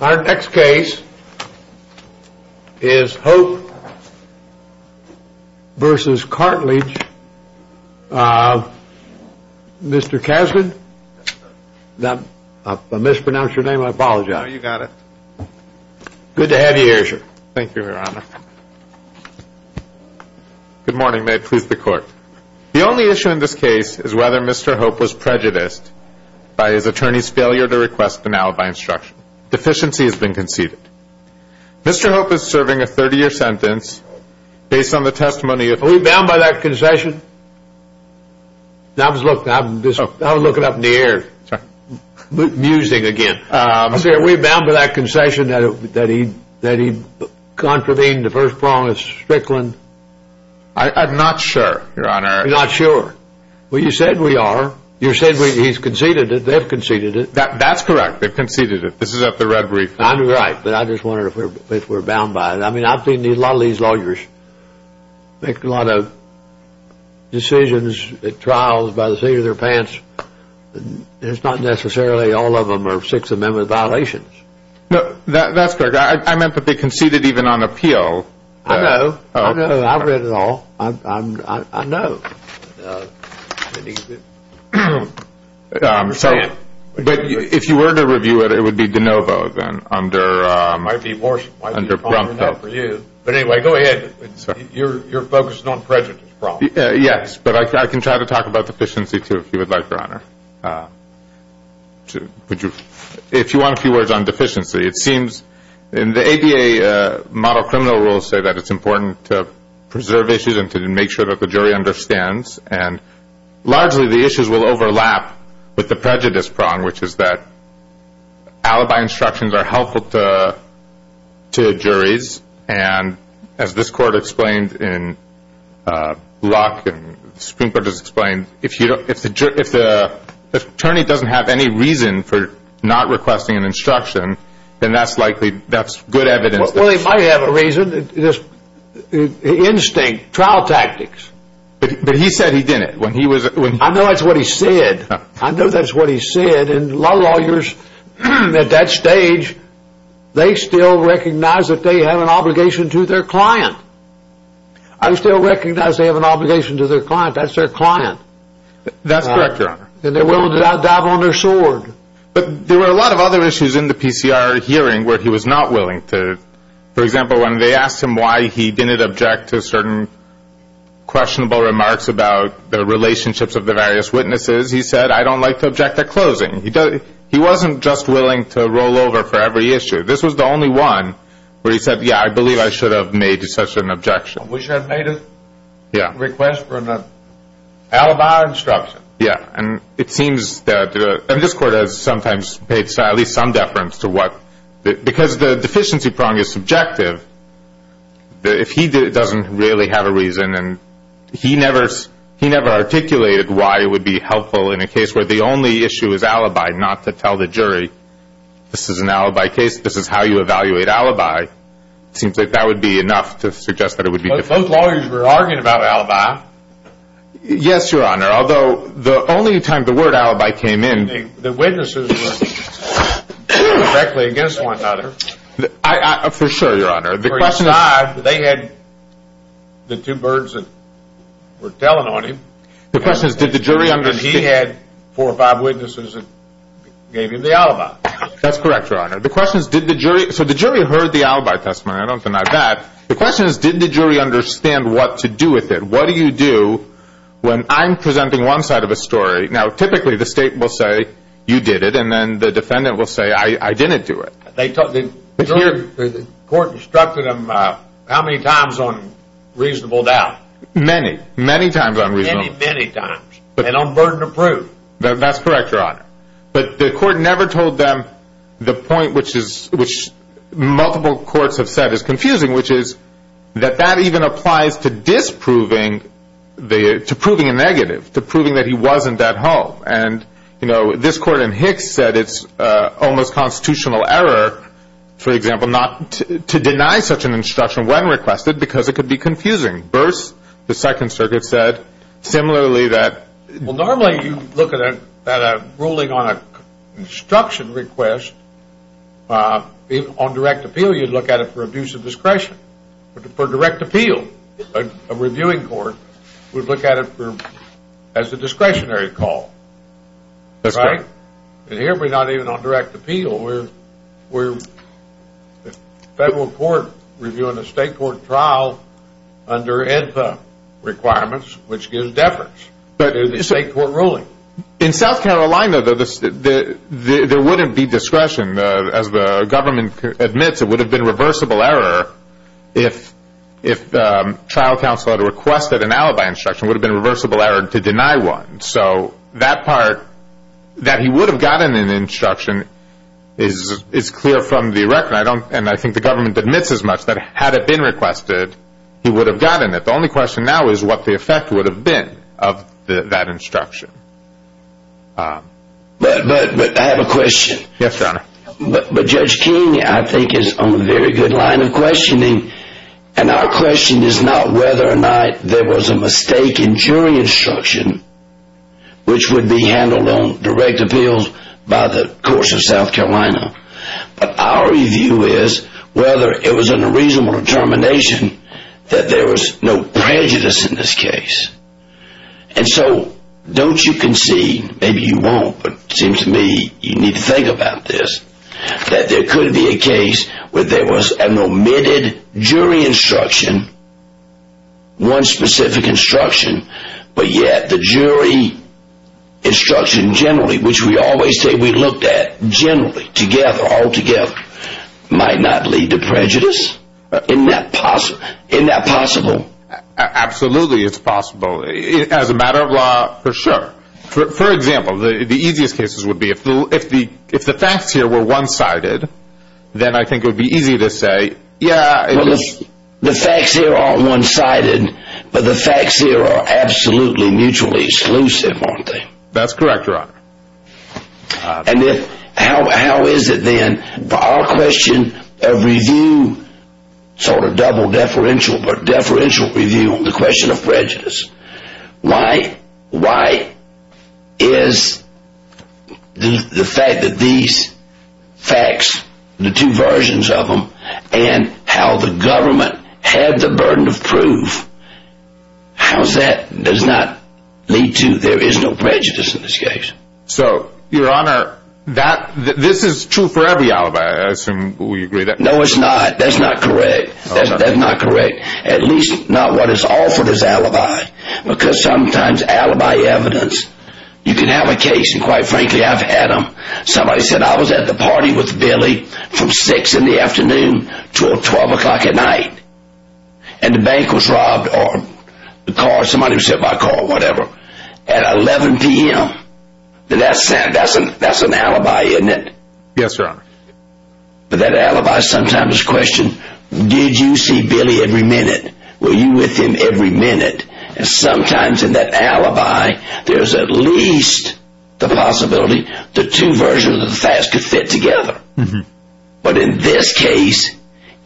Our next case is Hope v. Cartledge. Mr. Kasdan? I mispronounced your name. I apologize. No, you got it. Good to have you here, sir. Thank you, Your Honor. Good morning. May it please the Court. The only issue in this case is whether Mr. Hope was prejudiced by his attorney's failure to request an alibi instruction. Deficiency has been conceded. Mr. Hope is serving a 30-year sentence based on the testimony of... Are we bound by that concession? I was looking up in the air, musing again. Are we bound by that concession that he contravened the First Promise Strickland? I'm not sure, Your Honor. You're not sure? Well, you said we are. You said he's conceded it. They've conceded it. That's correct. They've conceded it. This is up the red brief. I'm right, but I just wondered if we're bound by it. I mean, I've seen a lot of these lawyers make a lot of decisions at trials by the seat of their pants. It's not necessarily all of them are Sixth Amendment violations. No, that's correct. I meant that they conceded even on appeal. I know. I know. I've read it all. I know. But if you were to review it, it would be de novo then under... It might be worse. Under Bromfield. But anyway, go ahead. You're focusing on prejudice problems. Yes, but I can try to talk about deficiency, too, if you would like, Your Honor. If you want a few words on deficiency. It seems in the ADA model criminal rules say that it's important to preserve issues and to make sure that the jury understands, and largely the issues will overlap with the prejudice prong, which is that alibi instructions are helpful to juries, and as this Court explained in Locke and the Supreme Court has explained, if the attorney doesn't have any reason for not requesting an instruction, then that's likely good evidence. Well, he might have a reason. Instinct. Trial tactics. But he said he didn't. I know that's what he said. I know that's what he said. And a lot of lawyers at that stage, they still recognize that they have an obligation to their client. I still recognize they have an obligation to their client. That's their client. That's correct, Your Honor. And they're willing to dive on their sword. But there were a lot of other issues in the PCR hearing where he was not willing to... For example, when they asked him why he didn't object to certain questionable remarks about the relationships of the various witnesses, he said, I don't like to object at closing. He wasn't just willing to roll over for every issue. This was the only one where he said, yeah, I believe I should have made such an objection. We should have made a request for an alibi instruction. Yeah, and it seems that... And this Court has sometimes paid at least some deference to what... Because the deficiency prong is subjective, if he doesn't really have a reason, and he never articulated why it would be helpful in a case where the only issue is alibi, not to tell the jury, this is an alibi case, this is how you evaluate alibi. It seems like that would be enough to suggest that it would be... Both lawyers were arguing about alibi. Yes, Your Honor, although the only time the word alibi came in... The witnesses were directly against one another. For sure, Your Honor. They had the two birds that were telling on him. The question is, did the jury understand... Because he had four or five witnesses that gave him the alibi. That's correct, Your Honor. The question is, did the jury... So the jury heard the alibi testimony, I don't deny that. The question is, did the jury understand what to do with it? What do you do when I'm presenting one side of a story? Now, typically the state will say, you did it, and then the defendant will say, I didn't do it. The court instructed him how many times on reasonable doubt? Many, many times on reasonable doubt. Many, many times. And on burden of proof. That's correct, Your Honor. But the court never told them the point which multiple courts have said is confusing, which is that that even applies to disproving, to proving a negative, to proving that he wasn't at home. And, you know, this court in Hicks said it's almost constitutional error, for example, to deny such an instruction when requested because it could be confusing. Burse, the Second Circuit, said similarly that... Well, normally you look at a ruling on an instruction request on direct appeal, but for direct appeal, a reviewing court would look at it as a discretionary call. That's right. And here we're not even on direct appeal. We're a federal court reviewing a state court trial under ENPA requirements, which gives deference to the state court ruling. In South Carolina, though, there wouldn't be discretion. As the government admits, it would have been a reversible error if trial counsel had requested an alibi instruction. It would have been a reversible error to deny one. So that part, that he would have gotten an instruction, is clear from the record. And I think the government admits as much that had it been requested, he would have gotten it. The only question now is what the effect would have been of that instruction. But I have a question. Yes, Your Honor. But Judge King, I think, is on a very good line of questioning. And our question is not whether or not there was a mistake in jury instruction, which would be handled on direct appeal by the courts of South Carolina. But our view is whether it was a reasonable determination that there was no prejudice in this case. And so don't you concede, maybe you won't, but it seems to me you need to think about this, that there could be a case where there was an omitted jury instruction, one specific instruction, but yet the jury instruction generally, which we always say we looked at generally, together, altogether, might not lead to prejudice? Isn't that possible? Absolutely, it's possible. As a matter of law, for sure. For example, the easiest cases would be if the facts here were one-sided, then I think it would be easy to say, yeah, it was. The facts here aren't one-sided, but the facts here are absolutely mutually exclusive, aren't they? That's correct, Your Honor. And how is it, then, for our question of review, sort of double deferential, but deferential review on the question of prejudice, why is the fact that these facts, the two versions of them, and how the government had the burden of proof, how does that not lead to there is no prejudice in this case? So, Your Honor, this is true for every alibi, I assume we agree. No, it's not. That's not correct. That's not correct, at least not what is offered as alibi, because sometimes alibi evidence, you can have a case, and quite frankly, I've had them. Somebody said, I was at the party with Billy from 6 in the afternoon until 12 o'clock at night, and the bank was robbed, or somebody was hit by a car, whatever, at 11 p.m. That's an alibi, isn't it? Yes, Your Honor. But that alibi sometimes questions, did you see Billy every minute? Were you with him every minute? And sometimes in that alibi, there's at least the possibility the two versions of the facts could fit together. But in this case,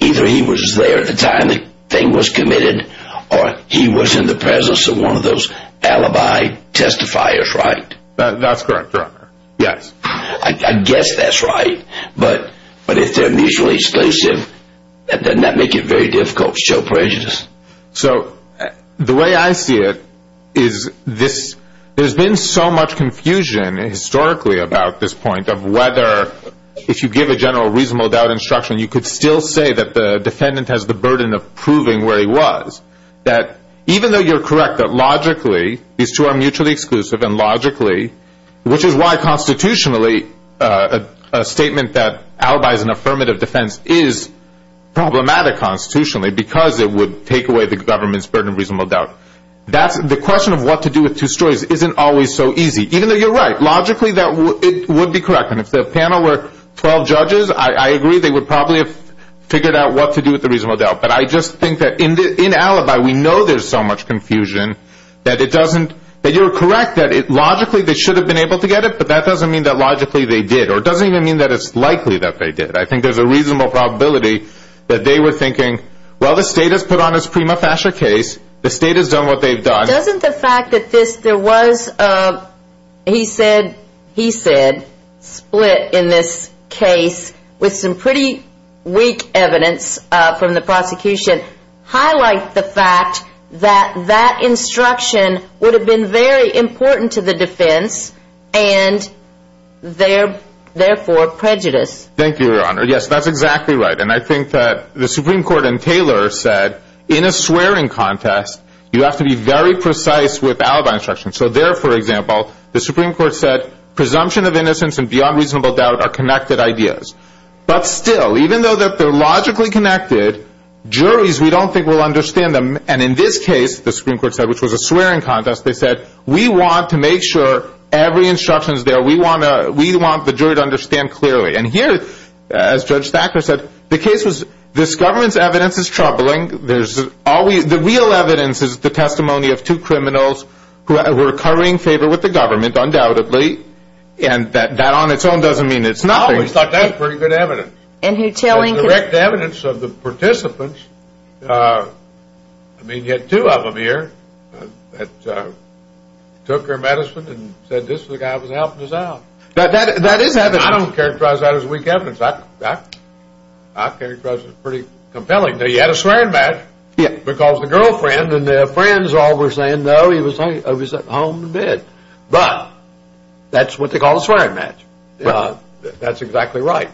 either he was there at the time the thing was committed, or he was in the presence of one of those alibi testifiers, right? That's correct, Your Honor. Yes. I guess that's right, but if they're mutually exclusive, then that makes it very difficult to show prejudice. So the way I see it is there's been so much confusion historically about this point, of whether if you give a general reasonable doubt instruction, you could still say that the defendant has the burden of proving where he was. That even though you're correct that logically these two are mutually exclusive, and logically, which is why constitutionally a statement that alibis an affirmative defense is problematic constitutionally because it would take away the government's burden of reasonable doubt. The question of what to do with two stories isn't always so easy, even though you're right. Logically, it would be correct. And if the panel were 12 judges, I agree they would probably have figured out what to do with the reasonable doubt. But I just think that in alibi, we know there's so much confusion that it doesn't – that you're correct that logically they should have been able to get it, but that doesn't mean that logically they did, or it doesn't even mean that it's likely that they did. I think there's a reasonable probability that they were thinking, well, the state has put on its prima facie case, the state has done what they've done. Doesn't the fact that there was a, he said, he said, split in this case, with some pretty weak evidence from the prosecution, highlight the fact that that instruction would have been very important to the defense, and therefore prejudice? Thank you, Your Honor. Yes, that's exactly right. And I think that the Supreme Court in Taylor said, in a swearing contest, you have to be very precise with alibi instructions. So there, for example, the Supreme Court said, presumption of innocence and beyond reasonable doubt are connected ideas. But still, even though they're logically connected, juries, we don't think will understand them. And in this case, the Supreme Court said, which was a swearing contest, they said, we want to make sure every instruction is there. We want the jury to understand clearly. And here, as Judge Thacker said, the case was, this government's evidence is troubling. There's always, the real evidence is the testimony of two criminals who were covering favor with the government, undoubtedly. And that on its own doesn't mean it's nothing. I always thought that was pretty good evidence. And the direct evidence of the participants, I mean, you had two of them here, that took their medicine and said, this is the guy that was helping us out. That is evidence. I don't characterize that as weak evidence. I characterize it as pretty compelling. Now, you had a swearing match because the girlfriend and the friends all were saying, no, he was at home in bed. But that's what they call a swearing match. That's exactly right.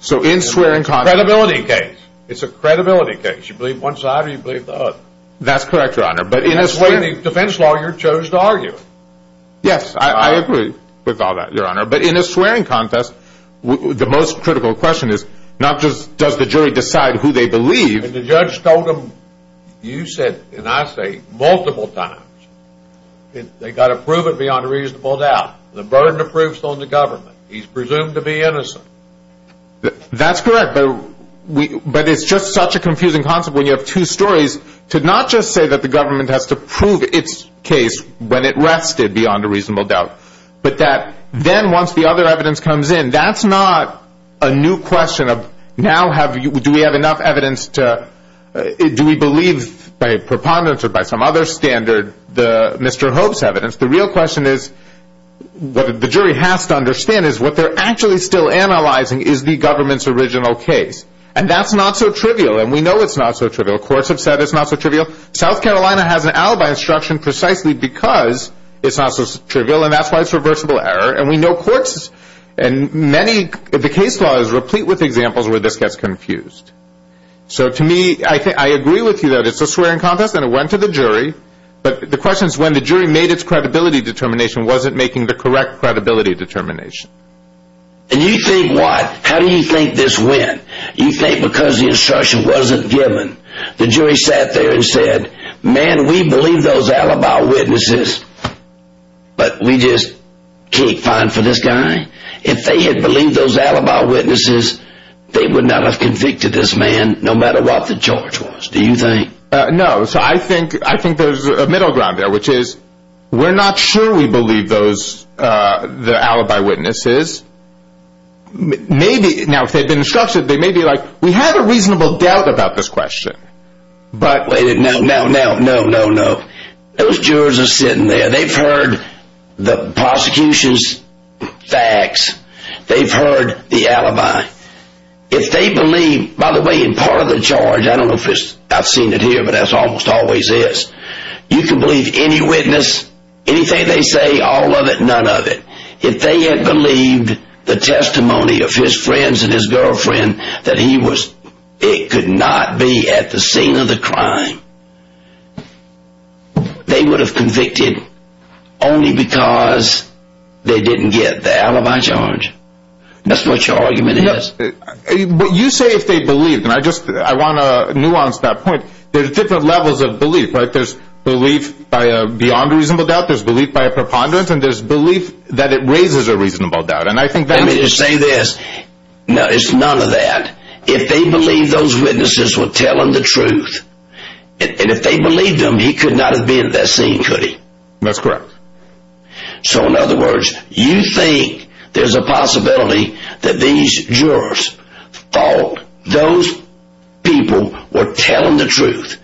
So in swearing contests. It's a credibility case. It's a credibility case. You believe one side or you believe the other. That's correct, Your Honor. But in a swearing defense law, you chose to argue it. Yes, I agree with all that, Your Honor. But in a swearing contest, the most critical question is not just does the jury decide who they believe. And the judge told them, you said, and I say multiple times, they've got to prove it beyond a reasonable doubt. The burden of proof is on the government. He's presumed to be innocent. That's correct. But it's just such a confusing concept when you have two stories to not just say that the government has to prove its case when it rested beyond a reasonable doubt, but that then once the other evidence comes in, that's not a new question of now do we have enough evidence to, do we believe by preponderance or by some other standard Mr. Hope's evidence. The real question is what the jury has to understand is what they're actually still analyzing is the government's original case. And that's not so trivial. And we know it's not so trivial. Courts have said it's not so trivial. South Carolina has an alibi instruction precisely because it's not so trivial. And that's why it's reversible error. And we know courts and many of the case laws replete with examples where this gets confused. So to me, I agree with you that it's a swearing contest and it went to the jury. But the question is when the jury made its credibility determination, was it making the correct credibility determination? And you think what? How do you think this went? You think because the instruction wasn't given, the jury sat there and said, man, we believe those alibi witnesses, but we just can't find for this guy. If they had believed those alibi witnesses, they would not have convicted this man no matter what the charge was. Do you think? No. So I think I think there's a middle ground there, which is we're not sure we believe those the alibi witnesses. Maybe. Now, if they've been instructed, they may be like, we have a reasonable doubt about this question. But no, no, no, no, no, no. Those jurors are sitting there. They've heard the prosecution's facts. They've heard the alibi. If they believe, by the way, in part of the charge, I don't know if I've seen it here, but that's almost always is. You can believe any witness, anything they say, all of it, none of it. If they had believed the testimony of his friends and his girlfriend, that he was it could not be at the scene of the crime. They would have convicted only because they didn't get the alibi charge. That's what your argument is. But you say if they believe, and I just I want to nuance that point. There's different levels of belief, right? There's belief by a beyond reasonable doubt. There's belief by a preponderance. And there's belief that it raises a reasonable doubt. And I think that may just say this. No, it's none of that. If they believe those witnesses will tell him the truth. And if they believe them, he could not have been at that scene, could he? That's correct. So, in other words, you think there's a possibility that these jurors thought those people were telling the truth.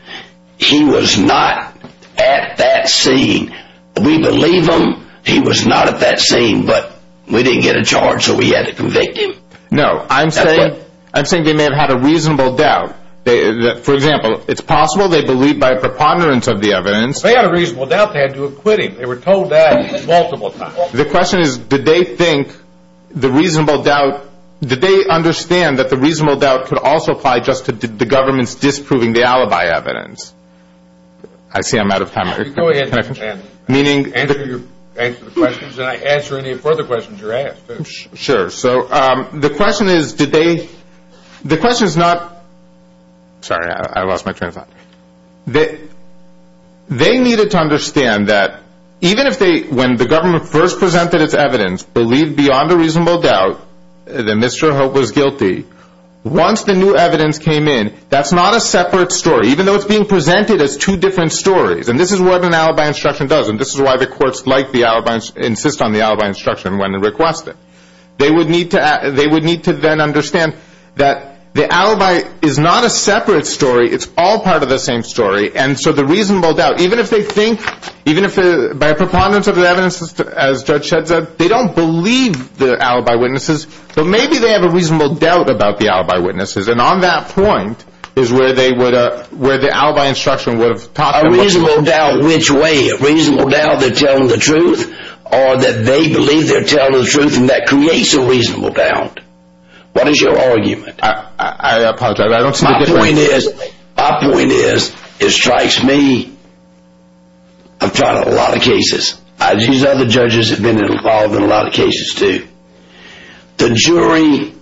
He was not at that scene. We believe him. He was not at that scene. But we didn't get a charge, so we had to convict him. No, I'm saying they may have had a reasonable doubt. For example, it's possible they believed by a preponderance of the evidence. If they had a reasonable doubt, they had to have quit him. They were told that multiple times. The question is, did they think the reasonable doubt, did they understand that the reasonable doubt could also apply just to the government's disproving the alibi evidence? I see I'm out of time. Go ahead. Answer the questions, and I'll answer any further questions you're asked. Sure. So, the question is, did they, the question is not, sorry, I lost my train of thought. They needed to understand that even if they, when the government first presented its evidence, believed beyond a reasonable doubt that Mr. Hope was guilty, once the new evidence came in, that's not a separate story, even though it's being presented as two different stories. And this is what an alibi instruction does, and this is why the courts like the alibi, insist on the alibi instruction when they request it. They would need to then understand that the alibi is not a separate story. It's all part of the same story, and so the reasonable doubt, even if they think, even if by a preponderance of the evidence, as Judge Shed said, they don't believe the alibi witnesses, but maybe they have a reasonable doubt about the alibi witnesses, and on that point is where the alibi instruction would have taught them what to do. A reasonable doubt which way? A reasonable doubt they're telling the truth, or that they believe they're telling the truth and that creates a reasonable doubt. What is your argument? I apologize, I don't speak at length. My point is, my point is, it strikes me, I've tried a lot of cases. These other judges have been involved in a lot of cases too. The jury,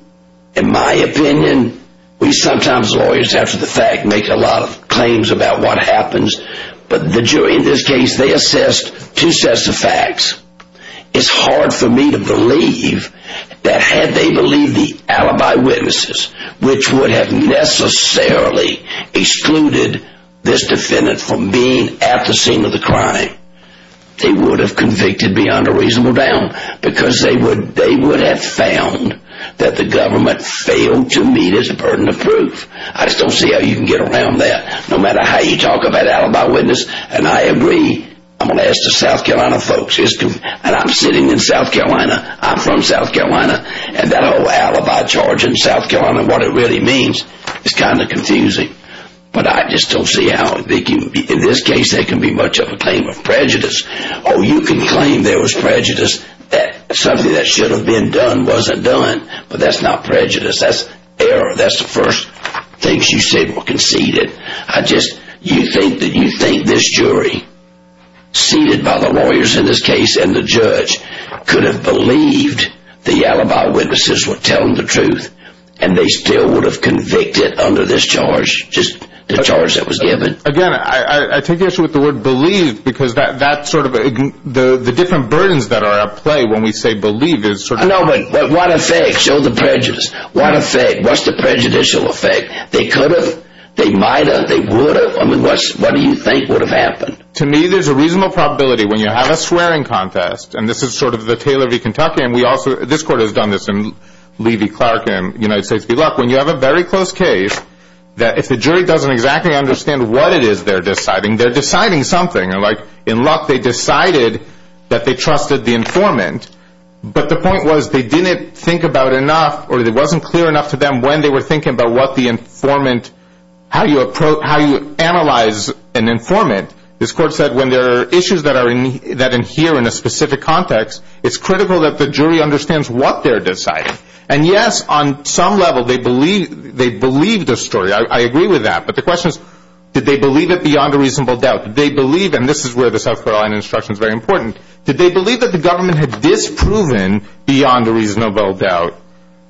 in my opinion, we sometimes lawyers, after the fact, make a lot of claims about what happens, but the jury in this case, they assessed two sets of facts. It's hard for me to believe that had they believed the alibi witnesses, which would have necessarily excluded this defendant from being at the scene of the crime, they would have convicted beyond a reasonable doubt, because they would have found that the government failed to meet its burden of proof. I just don't see how you can get around that, no matter how you talk about alibi witnesses, and I agree, I'm going to ask the South Carolina folks, and I'm sitting in South Carolina, I'm from South Carolina, and that whole alibi charge in South Carolina, what it really means, is kind of confusing. But I just don't see how in this case there can be much of a claim of prejudice. Oh, you can claim there was prejudice, that something that should have been done wasn't done, but that's not prejudice, that's error, that's the first thing you say, well, concede it. I just, you think that you think this jury, seated by the lawyers in this case and the judge, could have believed the alibi witnesses were telling the truth, and they still would have convicted under this charge, just the charge that was given? Again, I take the issue with the word believed, because that sort of, the different burdens that are at play when we say believed is sort of... No, but what effect, show the prejudice, what effect, what's the prejudicial effect? They could have, they might have, they would have, I mean, what do you think would have happened? To me, there's a reasonable probability when you have a swearing contest, and this is sort of the Taylor v. Kentucky, and we also, this court has done this, and Levy Clark and United States v. Luck, when you have a very close case, that if the jury doesn't exactly understand what it is they're deciding, they're deciding something, like in Luck they decided that they trusted the informant, but the point was they didn't think about enough, or it wasn't clear enough to them when they were thinking about what the informant, how you analyze an informant. This court said when there are issues that adhere in a specific context, it's critical that the jury understands what they're deciding, and yes, on some level they believed the story, I agree with that, but the question is, did they believe it beyond a reasonable doubt? Did they believe, and this is where the South Carolina instruction is very important, did they believe that the government had disproven beyond a reasonable doubt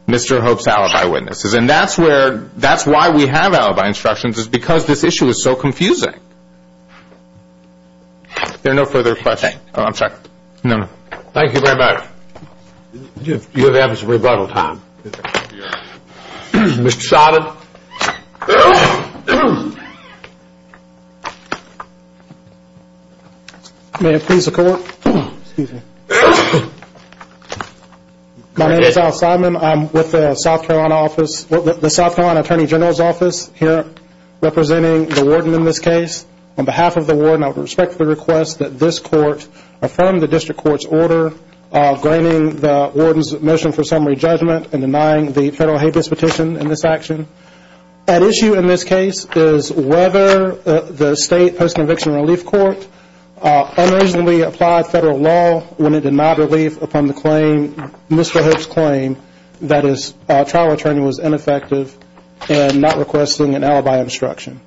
Mr. Hope's alibi witnesses? And that's where, that's why we have alibi instructions is because this issue is so confusing. There are no further questions. Oh, I'm sorry. No, no. Thank you very much. You'll have his rebuttal time. Mr. Shadid. Thank you. May it please the court. Excuse me. My name is Al Simon. I'm with the South Carolina office, the South Carolina Attorney General's office, here representing the warden in this case. On behalf of the warden, I would respectfully request that this court affirm the district court's order graining the warden's motion for summary judgment and denying the federal habeas petition in this action. At issue in this case is whether the state post-conviction relief court unreasonably applied federal law when it did not relief upon the claim, Mr. Hope's claim, that his trial attorney was ineffective and not requesting an alibi instruction.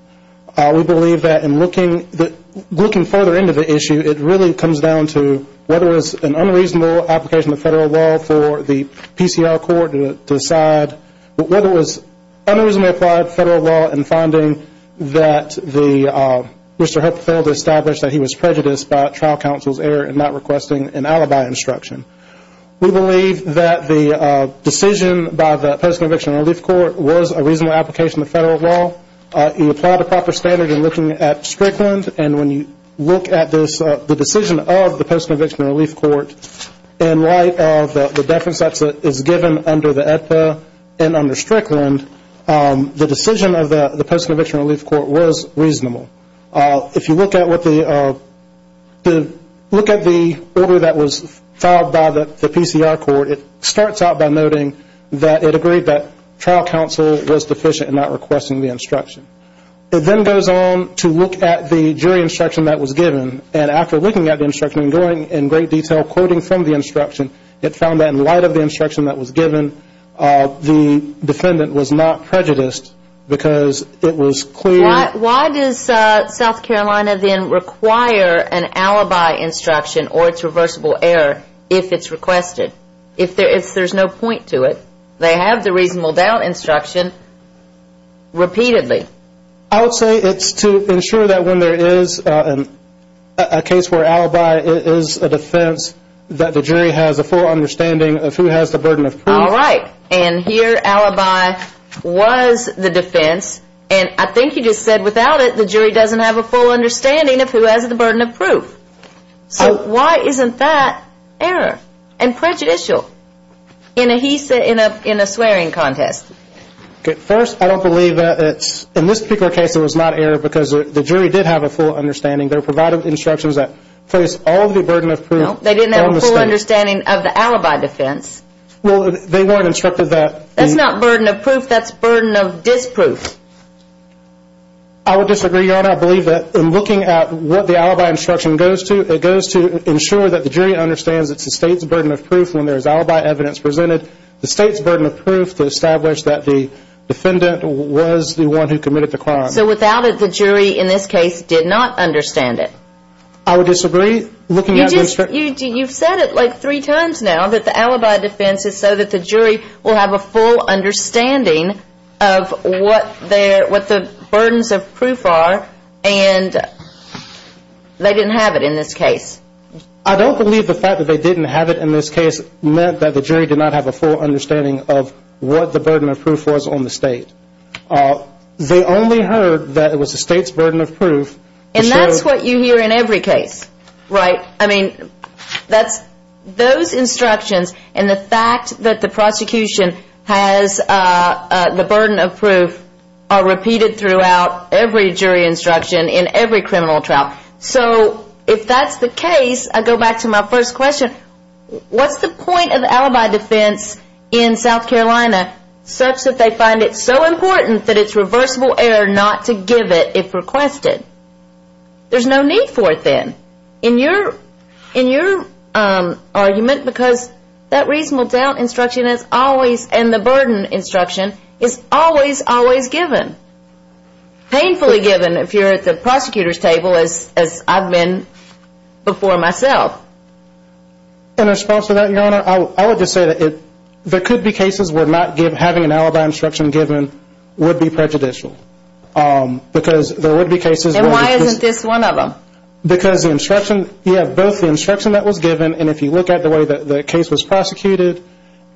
We believe that in looking further into the issue, it really comes down to whether it was an unreasonable application of federal law for the PCR court to decide, but whether it was unreasonably applied federal law in finding that Mr. Hope failed to establish that he was prejudiced by a trial counsel's error in not requesting an alibi instruction. We believe that the decision by the post-conviction relief court was a reasonable application of federal law. You apply the proper standard in looking at Strickland, and when you look at the decision of the post-conviction relief court, in light of the deference that is given under the EPA and under Strickland, the decision of the post-conviction relief court was reasonable. If you look at the order that was filed by the PCR court, it starts out by noting that it agreed that trial counsel was deficient in not requesting the instruction. It then goes on to look at the jury instruction that was given, and after looking at the instruction and going in great detail quoting from the instruction, it found that in light of the instruction that was given, the defendant was not prejudiced because it was clear. Why does South Carolina then require an alibi instruction or its reversible error if it's requested? If there's no point to it, they have the reasonable doubt instruction repeatedly. I would say it's to ensure that when there is a case where alibi is a defense, that the jury has a full understanding of who has the burden of proof. All right, and here alibi was the defense, and I think you just said without it, the jury doesn't have a full understanding of who has the burden of proof. So why isn't that error and prejudicial in a swearing contest? First, I don't believe that in this particular case it was not error because the jury did have a full understanding. They were provided with instructions that placed all the burden of proof on the state. They didn't have a full understanding of the alibi defense. Well, they weren't instructed that. That's not burden of proof. That's burden of disproof. I would disagree, Your Honor. I believe that in looking at what the alibi instruction goes to, it goes to ensure that the jury understands it's the state's burden of proof when there's alibi evidence presented, the state's burden of proof to establish that the defendant was the one who committed the crime. So without it, the jury in this case did not understand it. I would disagree. You've said it like three times now that the alibi defense is so that the jury will have a full understanding of what the burdens of proof are, and they didn't have it in this case. I don't believe the fact that they didn't have it in this case meant that the jury did not have a full understanding of what the burden of proof was on the state. They only heard that it was the state's burden of proof. And that's what you hear in every case. Right. I mean, those instructions and the fact that the prosecution has the burden of proof are repeated throughout every jury instruction in every criminal trial. So if that's the case, I go back to my first question. What's the point of alibi defense in South Carolina such that they find it so important that it's reversible error not to give it if requested? There's no need for it then in your argument because that reasonable doubt instruction and the burden instruction is always, always given. Painfully given if you're at the prosecutor's table as I've been before myself. In response to that, Your Honor, I would just say that there could be cases where not having an alibi instruction given would be prejudicial. And why isn't this one of them? Because you have both the instruction that was given and if you look at the way that the case was prosecuted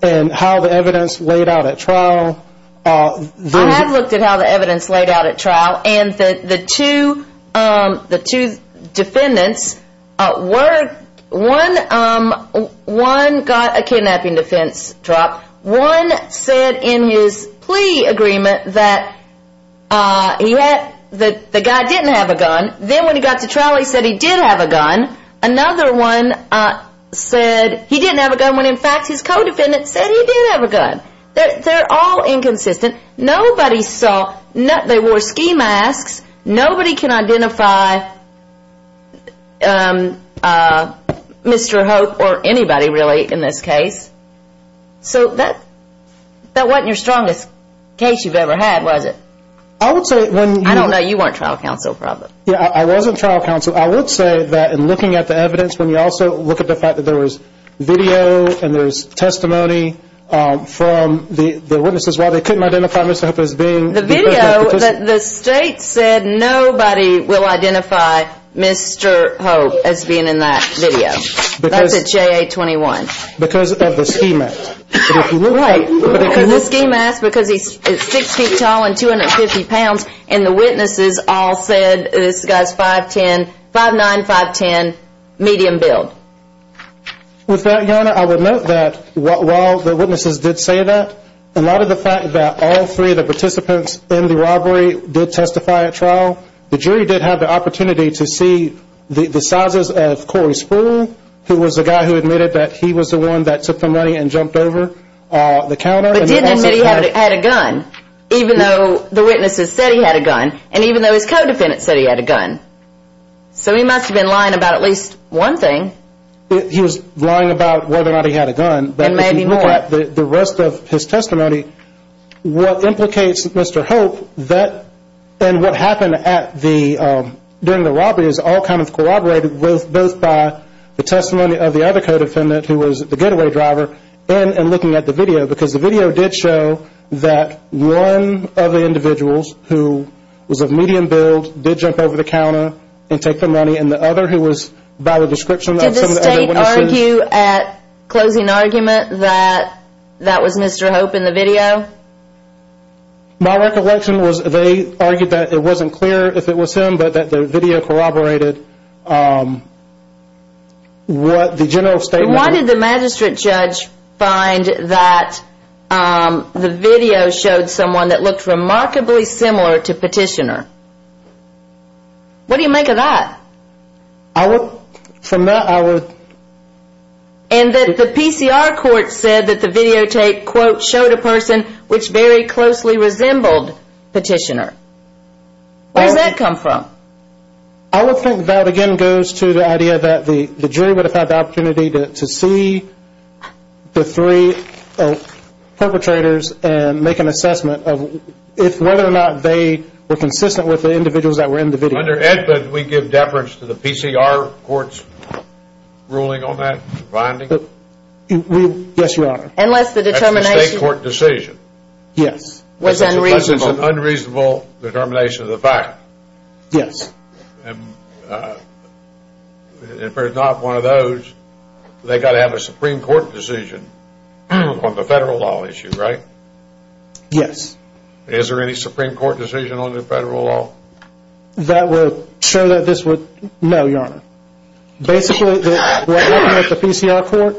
and how the evidence laid out at trial. I have looked at how the evidence laid out at trial. And the two defendants, one got a kidnapping defense drop. One said in his plea agreement that the guy didn't have a gun. Then when he got to trial, he said he did have a gun. Another one said he didn't have a gun when in fact his co-defendant said he did have a gun. They're all inconsistent. Nobody saw, they wore ski masks. Nobody can identify Mr. Hope or anybody really in this case. So that wasn't your strongest case you've ever had, was it? I don't know, you weren't trial counsel probably. Yeah, I wasn't trial counsel. So I would say that in looking at the evidence, when you also look at the fact that there was video and there was testimony from the witnesses while they couldn't identify Mr. Hope as being. The video, the state said nobody will identify Mr. Hope as being in that video. That's at JA-21. Because of the ski mask. Right. Because of the ski mask, because he's six feet tall and 250 pounds, and the witnesses all said this guy's 5'9", 5'10", medium build. With that, Your Honor, I would note that while the witnesses did say that, a lot of the fact that all three of the participants in the robbery did testify at trial, the jury did have the opportunity to see the sizes of Corey Spruill, who was the guy who admitted that he was the one that took the money and jumped over. But didn't admit he had a gun, even though the witnesses said he had a gun, and even though his co-defendant said he had a gun. So he must have been lying about at least one thing. He was lying about whether or not he had a gun. And maybe more. But if you look at the rest of his testimony, what implicates Mr. Hope, and what happened during the robbery, is all kind of corroborated both by the testimony of the other co-defendant, who was the getaway driver, and looking at the video. Because the video did show that one of the individuals who was of medium build did jump over the counter and take the money, and the other who was by the description of some of the other witnesses. Did the state argue at closing argument that that was Mr. Hope in the video? My recollection was they argued that it wasn't clear if it was him, but that the video corroborated what the general statement was. Why did the magistrate judge find that the video showed someone that looked remarkably similar to Petitioner? What do you make of that? I would, from that I would... And that the PCR court said that the videotape, quote, showed a person which very closely resembled Petitioner. Where does that come from? I would think that again goes to the idea that the jury would have had the opportunity to see the three perpetrators and make an assessment of whether or not they were consistent with the individuals that were in the video. Under EDPA, did we give deference to the PCR court's ruling on that finding? Yes, Your Honor. Unless the determination... That's the state court decision. Yes. Unless it's an unreasonable determination of the fact. Yes. And if it's not one of those, they've got to have a Supreme Court decision on the federal law issue, right? Yes. Is there any Supreme Court decision on the federal law? That would show that this would... No, Your Honor. Basically, looking at the PCR court,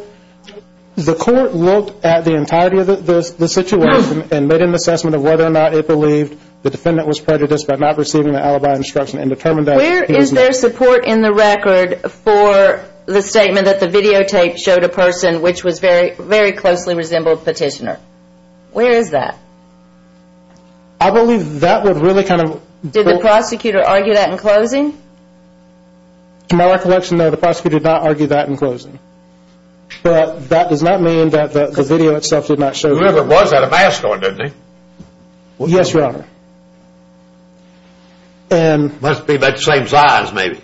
the court looked at the entirety of the situation and made an assessment of whether or not it believed the defendant was prejudiced by not receiving the alibi instruction and determined that... Where is there support in the record for the statement that the videotape showed a person which was very closely resembled Petitioner? Where is that? I believe that would really kind of... Did the prosecutor argue that in closing? To my recollection, no, the prosecutor did not argue that in closing. But that does not mean that the video itself did not show... Whoever was at a mask store, didn't he? Yes, Your Honor. Must be about the same size, maybe.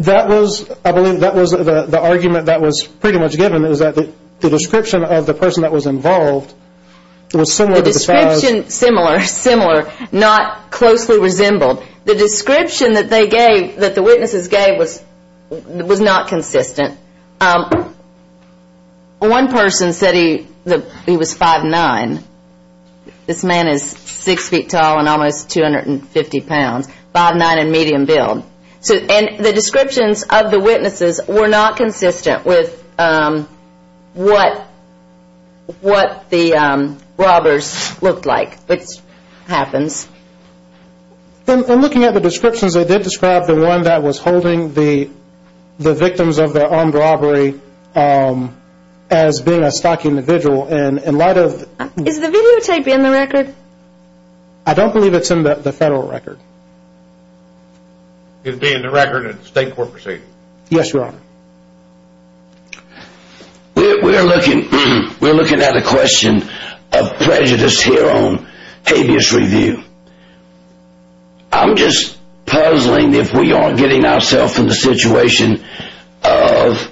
That was, I believe, that was the argument that was pretty much given, was that the description of the person that was involved was similar to the size... Similar, similar, not closely resembled. The description that they gave, that the witnesses gave, was not consistent. One person said he was 5'9". This man is six feet tall and almost 250 pounds. 5'9 and medium build. The descriptions of the witnesses were not consistent with what the robbers looked like, which happens. In looking at the descriptions, they did describe the one that was holding the victims of the armed robbery as being a stock individual. Is the videotape in the record? I don't believe it's in the federal record. It being in the record and state court proceedings? Yes, Your Honor. We're looking at a question of prejudice here on habeas review. I'm just puzzling, if we aren't getting ourselves in the situation of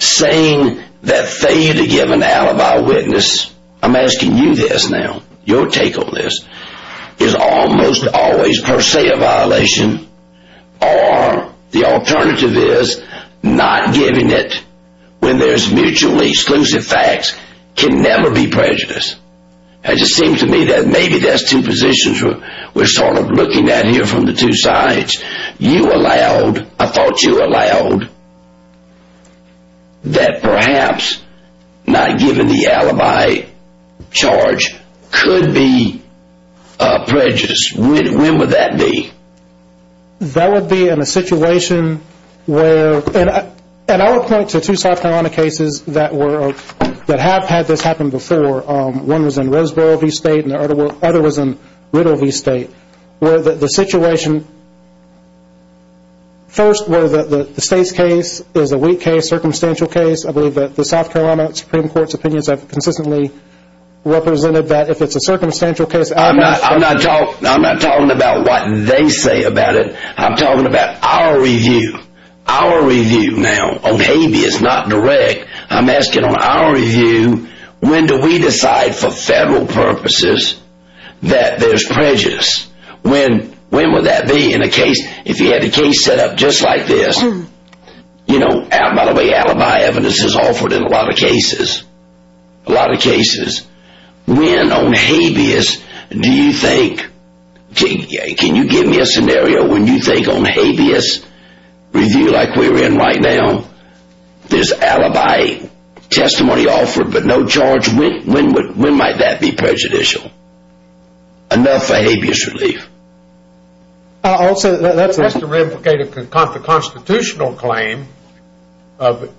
saying that they either give an alibi witness... I'm asking you this now. Your take on this is almost always per se a violation. Or the alternative is not giving it when there's mutually exclusive facts can never be prejudice. It just seems to me that maybe that's two positions we're sort of looking at here from the two sides. You allowed, I thought you allowed, that perhaps not giving the alibi charge could be prejudice. When would that be? That would be in a situation where... And I would point to two South Carolina cases that have had this happen before. One was in Roseboro v. State and the other was in Riddle v. State. Where the situation... First, where the State's case is a weak case, circumstantial case. I believe that the South Carolina Supreme Court's opinions have consistently represented that. If it's a circumstantial case... I'm not talking about what they say about it. I'm talking about our review. Our review now on habeas, not direct. I'm asking on our review, when do we decide for federal purposes that there's prejudice? When would that be in a case... If you had a case set up just like this... You know, by the way, alibi evidence is offered in a lot of cases. A lot of cases. When on habeas do you think... Can you give me a scenario when you think on habeas review like we're in right now... There's alibi testimony offered but no charge. When might that be prejudicial? Enough for habeas relief. That's to re-implicate a constitutional claim of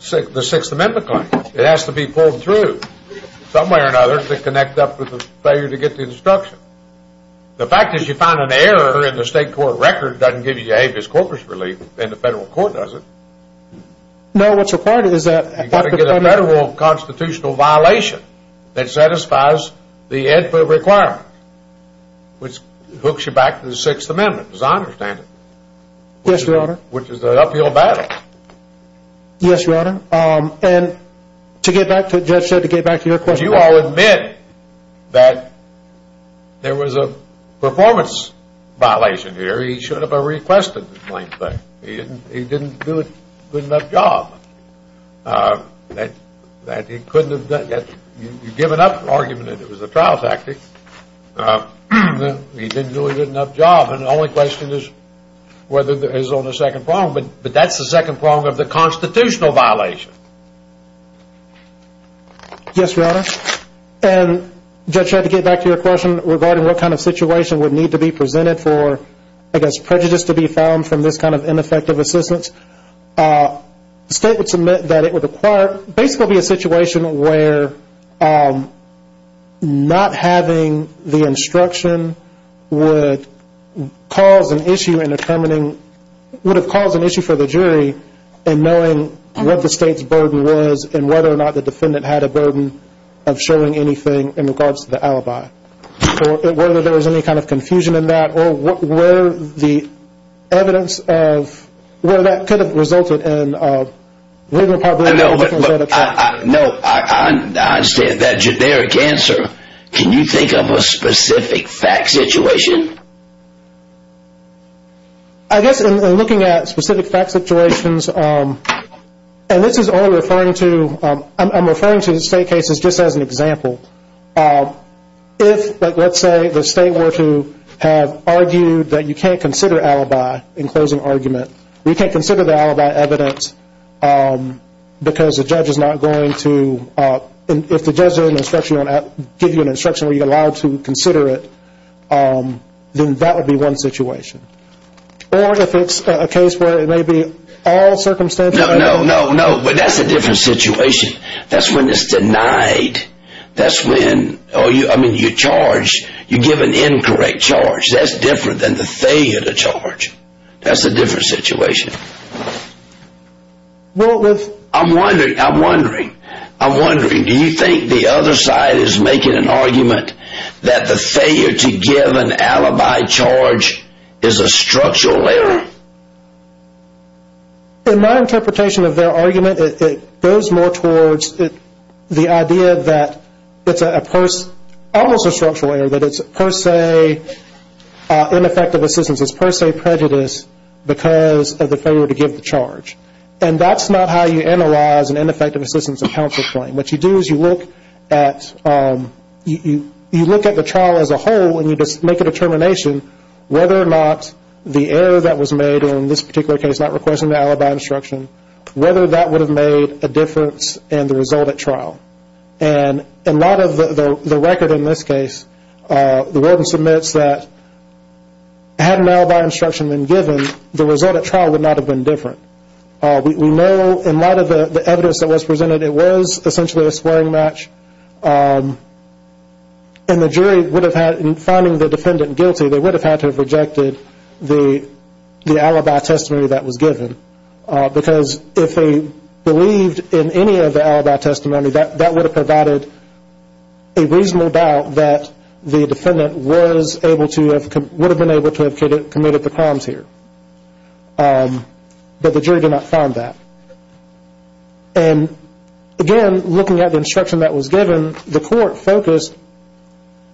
the Sixth Amendment claim. It has to be pulled through. Some way or another to connect up with the failure to get the instruction. The fact is you find an error in the State Court record doesn't give you habeas corpus relief. And the federal court doesn't. No, what's required is that... You've got to get a federal constitutional violation that satisfies the AEDPA requirement. Which hooks you back to the Sixth Amendment as I understand it. Yes, your honor. Which is the uphill battle. Yes, your honor. And to get back to what the judge said, to get back to your question... Would you all admit that there was a performance violation here? He should have requested it. He didn't do a good enough job. That he couldn't have done it. You've given up an argument that it was a trial tactic. He didn't do a good enough job. And the only question is whether there's only a second problem. But that's the second problem of the constitutional violation. Yes, your honor. And judge, to get back to your question regarding what kind of situation would need to be presented for... I guess prejudice to be found from this kind of ineffective assistance. The state would submit that it would require... Basically be a situation where not having the instruction would cause an issue in determining... What the burden was and whether or not the defendant had a burden of showing anything in regards to the alibi. Whether there was any kind of confusion in that or where the evidence of... Where that could have resulted in... No, I understand that generic answer. Can you think of a specific fact situation? I guess in looking at specific fact situations... And this is only referring to... I'm referring to the state cases just as an example. If, let's say, the state were to have argued that you can't consider alibi in closing argument. We can't consider the alibi evidence because the judge is not going to... If the judge doesn't give you an instruction where you're allowed to consider it, then that would be one situation. Or if it's a case where it may be all circumstances... No, no, no, no. That's a different situation. That's when it's denied. That's when... I mean, you charge... You give an incorrect charge. That's different than the failure to charge. That's a different situation. I'm wondering... I'm wondering... Do you think the other side is making an argument... that the failure to give an alibi charge is a structural error? In my interpretation of their argument, it goes more towards the idea that it's almost a structural error. That it's per se ineffective assistance. It's per se prejudice because of the failure to give the charge. And that's not how you analyze an ineffective assistance in counsel claim. What you do is you look at... You look at the trial as a whole and you make a determination whether or not the error that was made, in this particular case not requesting the alibi instruction, whether that would have made a difference in the result at trial. And a lot of the record in this case, the warden submits that had an alibi instruction been given, the result at trial would not have been different. We know in light of the evidence that was presented, it was essentially a swearing match. And the jury would have had, in finding the defendant guilty, they would have had to have rejected the alibi testimony that was given. Because if they believed in any of the alibi testimony, that would have provided a reasonable doubt that the defendant was able to have... would have been able to have committed the crimes here. But the jury did not find that. And again, looking at the instruction that was given, the court focused...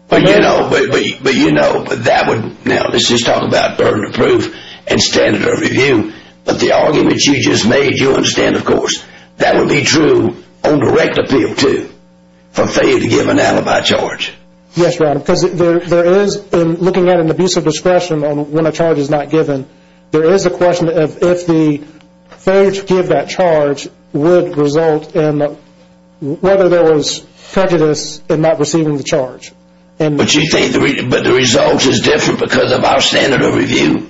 But you know, but you know, that would... Now let's just talk about burden of proof and standard of review. But the argument you just made, you understand of course, that would be true on direct appeal too, for failure to give an alibi charge. Yes, Your Honor, because there is, in looking at an abuse of discretion on when a charge is not given, there is a question of if the failure to give that charge would result in whether there was prejudice in not receiving the charge. But you think the result is different because of our standard of review?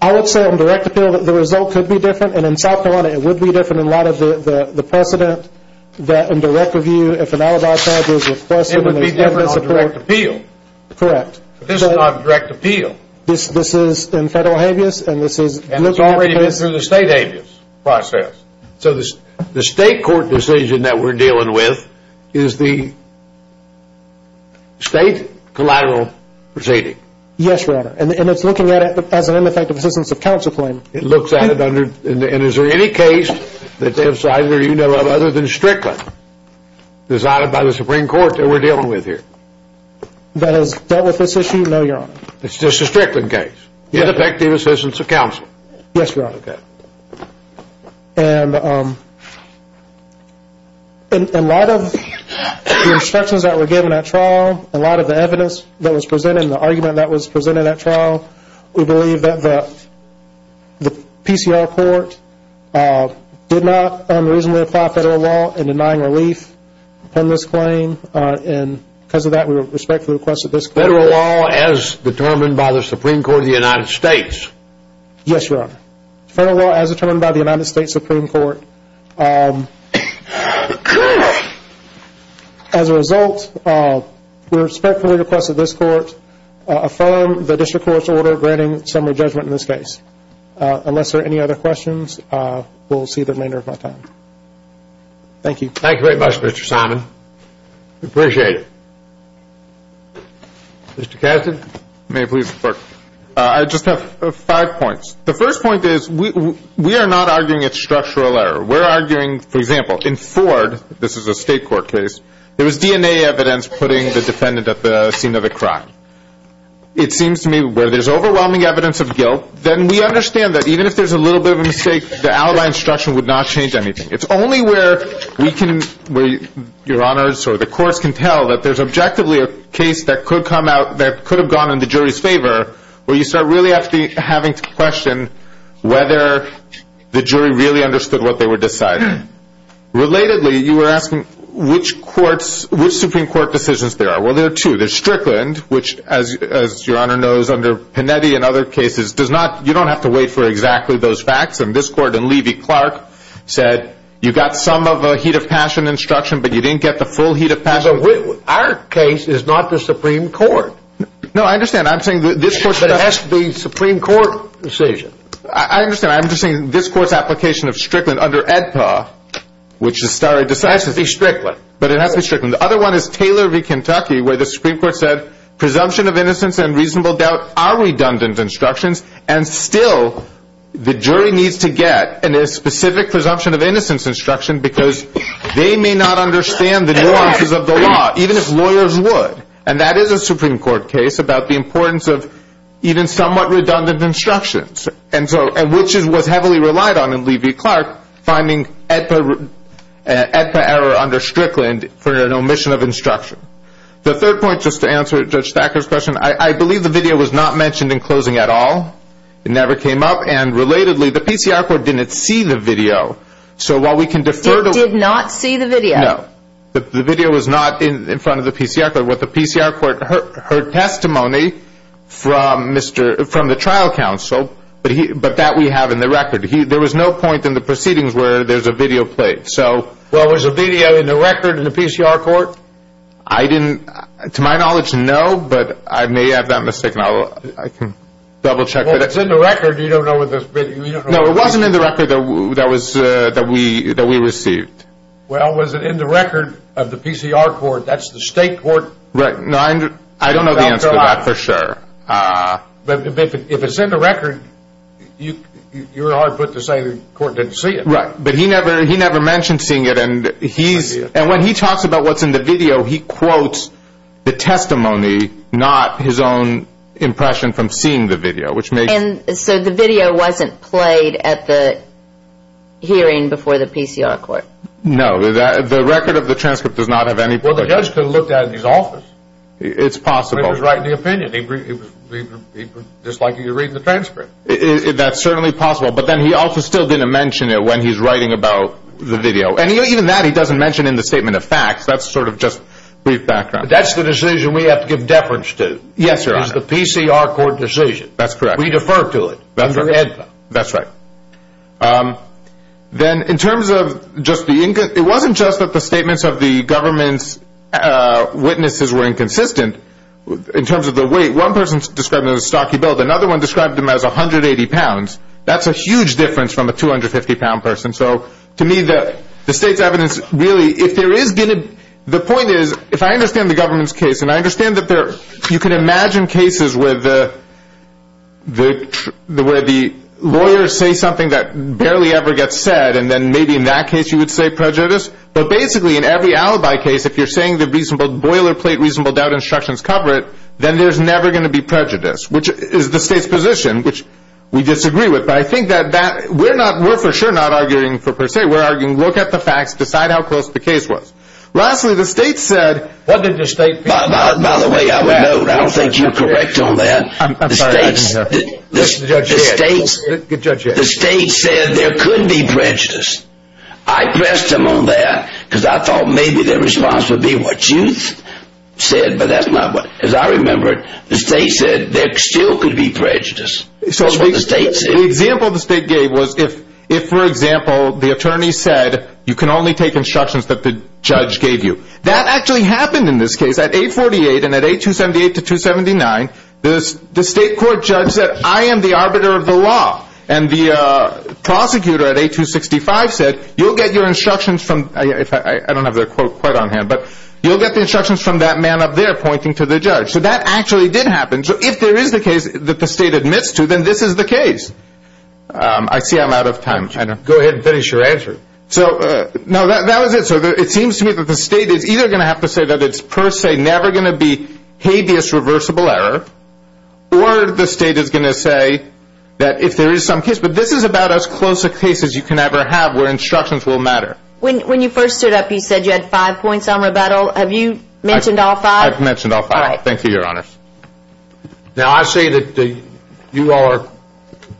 I would say on direct appeal that the result could be different, and in South Carolina it would be different in light of the precedent, that in direct review, if an alibi charge is requested... It would be different on direct appeal. Correct. This is not direct appeal. This is in federal habeas, and this is... And it's already been through the state habeas process. So the state court decision that we're dealing with is the state collateral proceeding? Yes, Your Honor, and it's looking at it as an ineffective assistance of counsel claim. It looks at it under... And is there any case that you know of other than Strickland decided by the Supreme Court that we're dealing with here? That has dealt with this issue? No, Your Honor. It's just a Strickland case? Yes. Ineffective assistance of counsel? Yes, Your Honor. Okay. And in light of the instructions that were given at trial, in light of the evidence that was presented, and the argument that was presented at trial, we believe that the PCR court did not unreasonably apply federal law in denying relief on this claim, and because of that, we respectfully request that this court... Federal law as determined by the Supreme Court of the United States? Yes, Your Honor. Federal law as determined by the United States Supreme Court. As a result, we respectfully request that this court affirm the district court's order granting summary judgment in this case. Unless there are any other questions, we'll see the remainder of my time. Thank you. Thank you very much, Mr. Simon. We appreciate it. Mr. Kasdan, may I please report? I just have five points. The first point is we are not arguing it's structural error. We're arguing, for example, in Ford, this is a state court case, there was DNA evidence putting the defendant at the scene of the crime. It seems to me where there's overwhelming evidence of guilt, then we understand that even if there's a little bit of a mistake, the alibi instruction would not change anything. It's only where we can, where Your Honors or the courts can tell that there's objectively a case that could have gone in the jury's favor where you start really having to question whether the jury really understood what they were deciding. Relatedly, you were asking which courts, which Supreme Court decisions there are. Well, there are two. There's Strickland, which as Your Honor knows under Panetti and other cases, does not, you don't have to wait for exactly those facts. And this court in Levy-Clark said you got some of a heat of passion instruction, but you didn't get the full heat of passion. Our case is not the Supreme Court. No, I understand. I'm saying this court's... But it has to be Supreme Court decision. I understand. I'm just saying this court's application of Strickland under AEDPA, which is stare decisis. It has to be Strickland. But it has to be Strickland. The other one is Taylor v. Kentucky where the Supreme Court said presumption of innocence and reasonable doubt are redundant instructions and still the jury needs to get a specific presumption of innocence instruction because they may not understand the nuances of the law, even if lawyers would. And that is a Supreme Court case about the importance of even somewhat redundant instructions. And so, which is what's heavily relied on in Levy-Clark, finding AEDPA error under Strickland for an omission of instruction. The third point, just to answer Judge Thacker's question, I believe the video was not mentioned in closing at all. It never came up. And relatedly, the PCR court didn't see the video. So while we can defer to... It did not see the video. No. The video was not in front of the PCR court. What the PCR court heard testimony from the trial counsel, but that we have in the record. There was no point in the proceedings where there's a video played. Well, was the video in the record in the PCR court? I didn't... To my knowledge, no, but I may have that mistaken. I can double check. Well, if it's in the record, you don't know what the video... No, it wasn't in the record that we received. Well, was it in the record of the PCR court? That's the state court... Right, no, I don't know the answer to that for sure. But if it's in the record, you're hard put to say the court didn't see it. Right, but he never mentioned seeing it. And when he talks about what's in the video, he quotes the testimony, not his own impression from seeing the video. So the video wasn't played at the hearing before the PCR court? No, the record of the transcript does not have any... Well, the judge could have looked at it in his office. It's possible. He was writing the opinion. Just like you're reading the transcript. That's certainly possible, but then he also still didn't mention it when he's writing about the video. And even that he doesn't mention in the statement of facts. That's sort of just brief background. That's the decision we have to give deference to. Yes, Your Honor. It's a PCR court decision. That's correct. We defer to it. That's right. That's right. Then in terms of just the... It wasn't just that the statements of the government's witnesses were inconsistent. In terms of the weight, one person described it as a stocky build. Another one described him as 180 pounds. That's a huge difference from a 250 pound person. So to me, the state's evidence really... The point is, if I understand the government's case, and I understand that you can imagine cases where the lawyers say something that barely ever gets said, and then maybe in that case you would say prejudice. But basically in every alibi case, if you're saying the reasonable boilerplate reasonable doubt instructions cover it, then there's never going to be prejudice, which is the state's position, which we disagree with. But I think that we're for sure not arguing for per se. We're arguing look at the facts, decide how close the case was. Lastly, the state said... What did the state... By the way, I would note, I don't think you're correct on that. The state said there could be prejudice. I pressed him on that because I thought maybe the response would be what you said, but that's not what... As I remember it, the state said there still could be prejudice. The example the state gave was if, for example, the attorney said you can only take instructions that the judge gave you. That actually happened in this case. At 848 and at 8278 to 279, the state court judge said I am the arbiter of the law, and the prosecutor at 8265 said you'll get your instructions from... I don't have the quote quite on hand, but you'll get the instructions from that man up there pointing to the judge. So that actually did happen. So if there is the case that the state admits to, then this is the case. I see I'm out of time. Go ahead and finish your answer. No, that was it, sir. It seems to me that the state is either going to have to say that it's per se never going to be habeas reversible error, or the state is going to say that if there is some case, but this is about as close a case as you can ever have where instructions will matter. When you first stood up, you said you had five points on rebuttal. Have you mentioned all five? I've mentioned all five. All right. Thank you, Your Honor. Now, I say that you are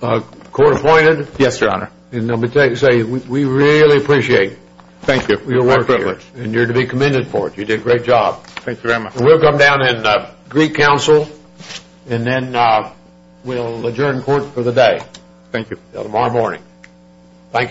court appointed. Yes, Your Honor. And let me tell you, we really appreciate your work here. It's my privilege. And you're to be commended for it. You did a great job. Thank you very much. We'll come down in Greek Council, and then we'll adjourn court for the day. Thank you. Until tomorrow morning. Thank you very much.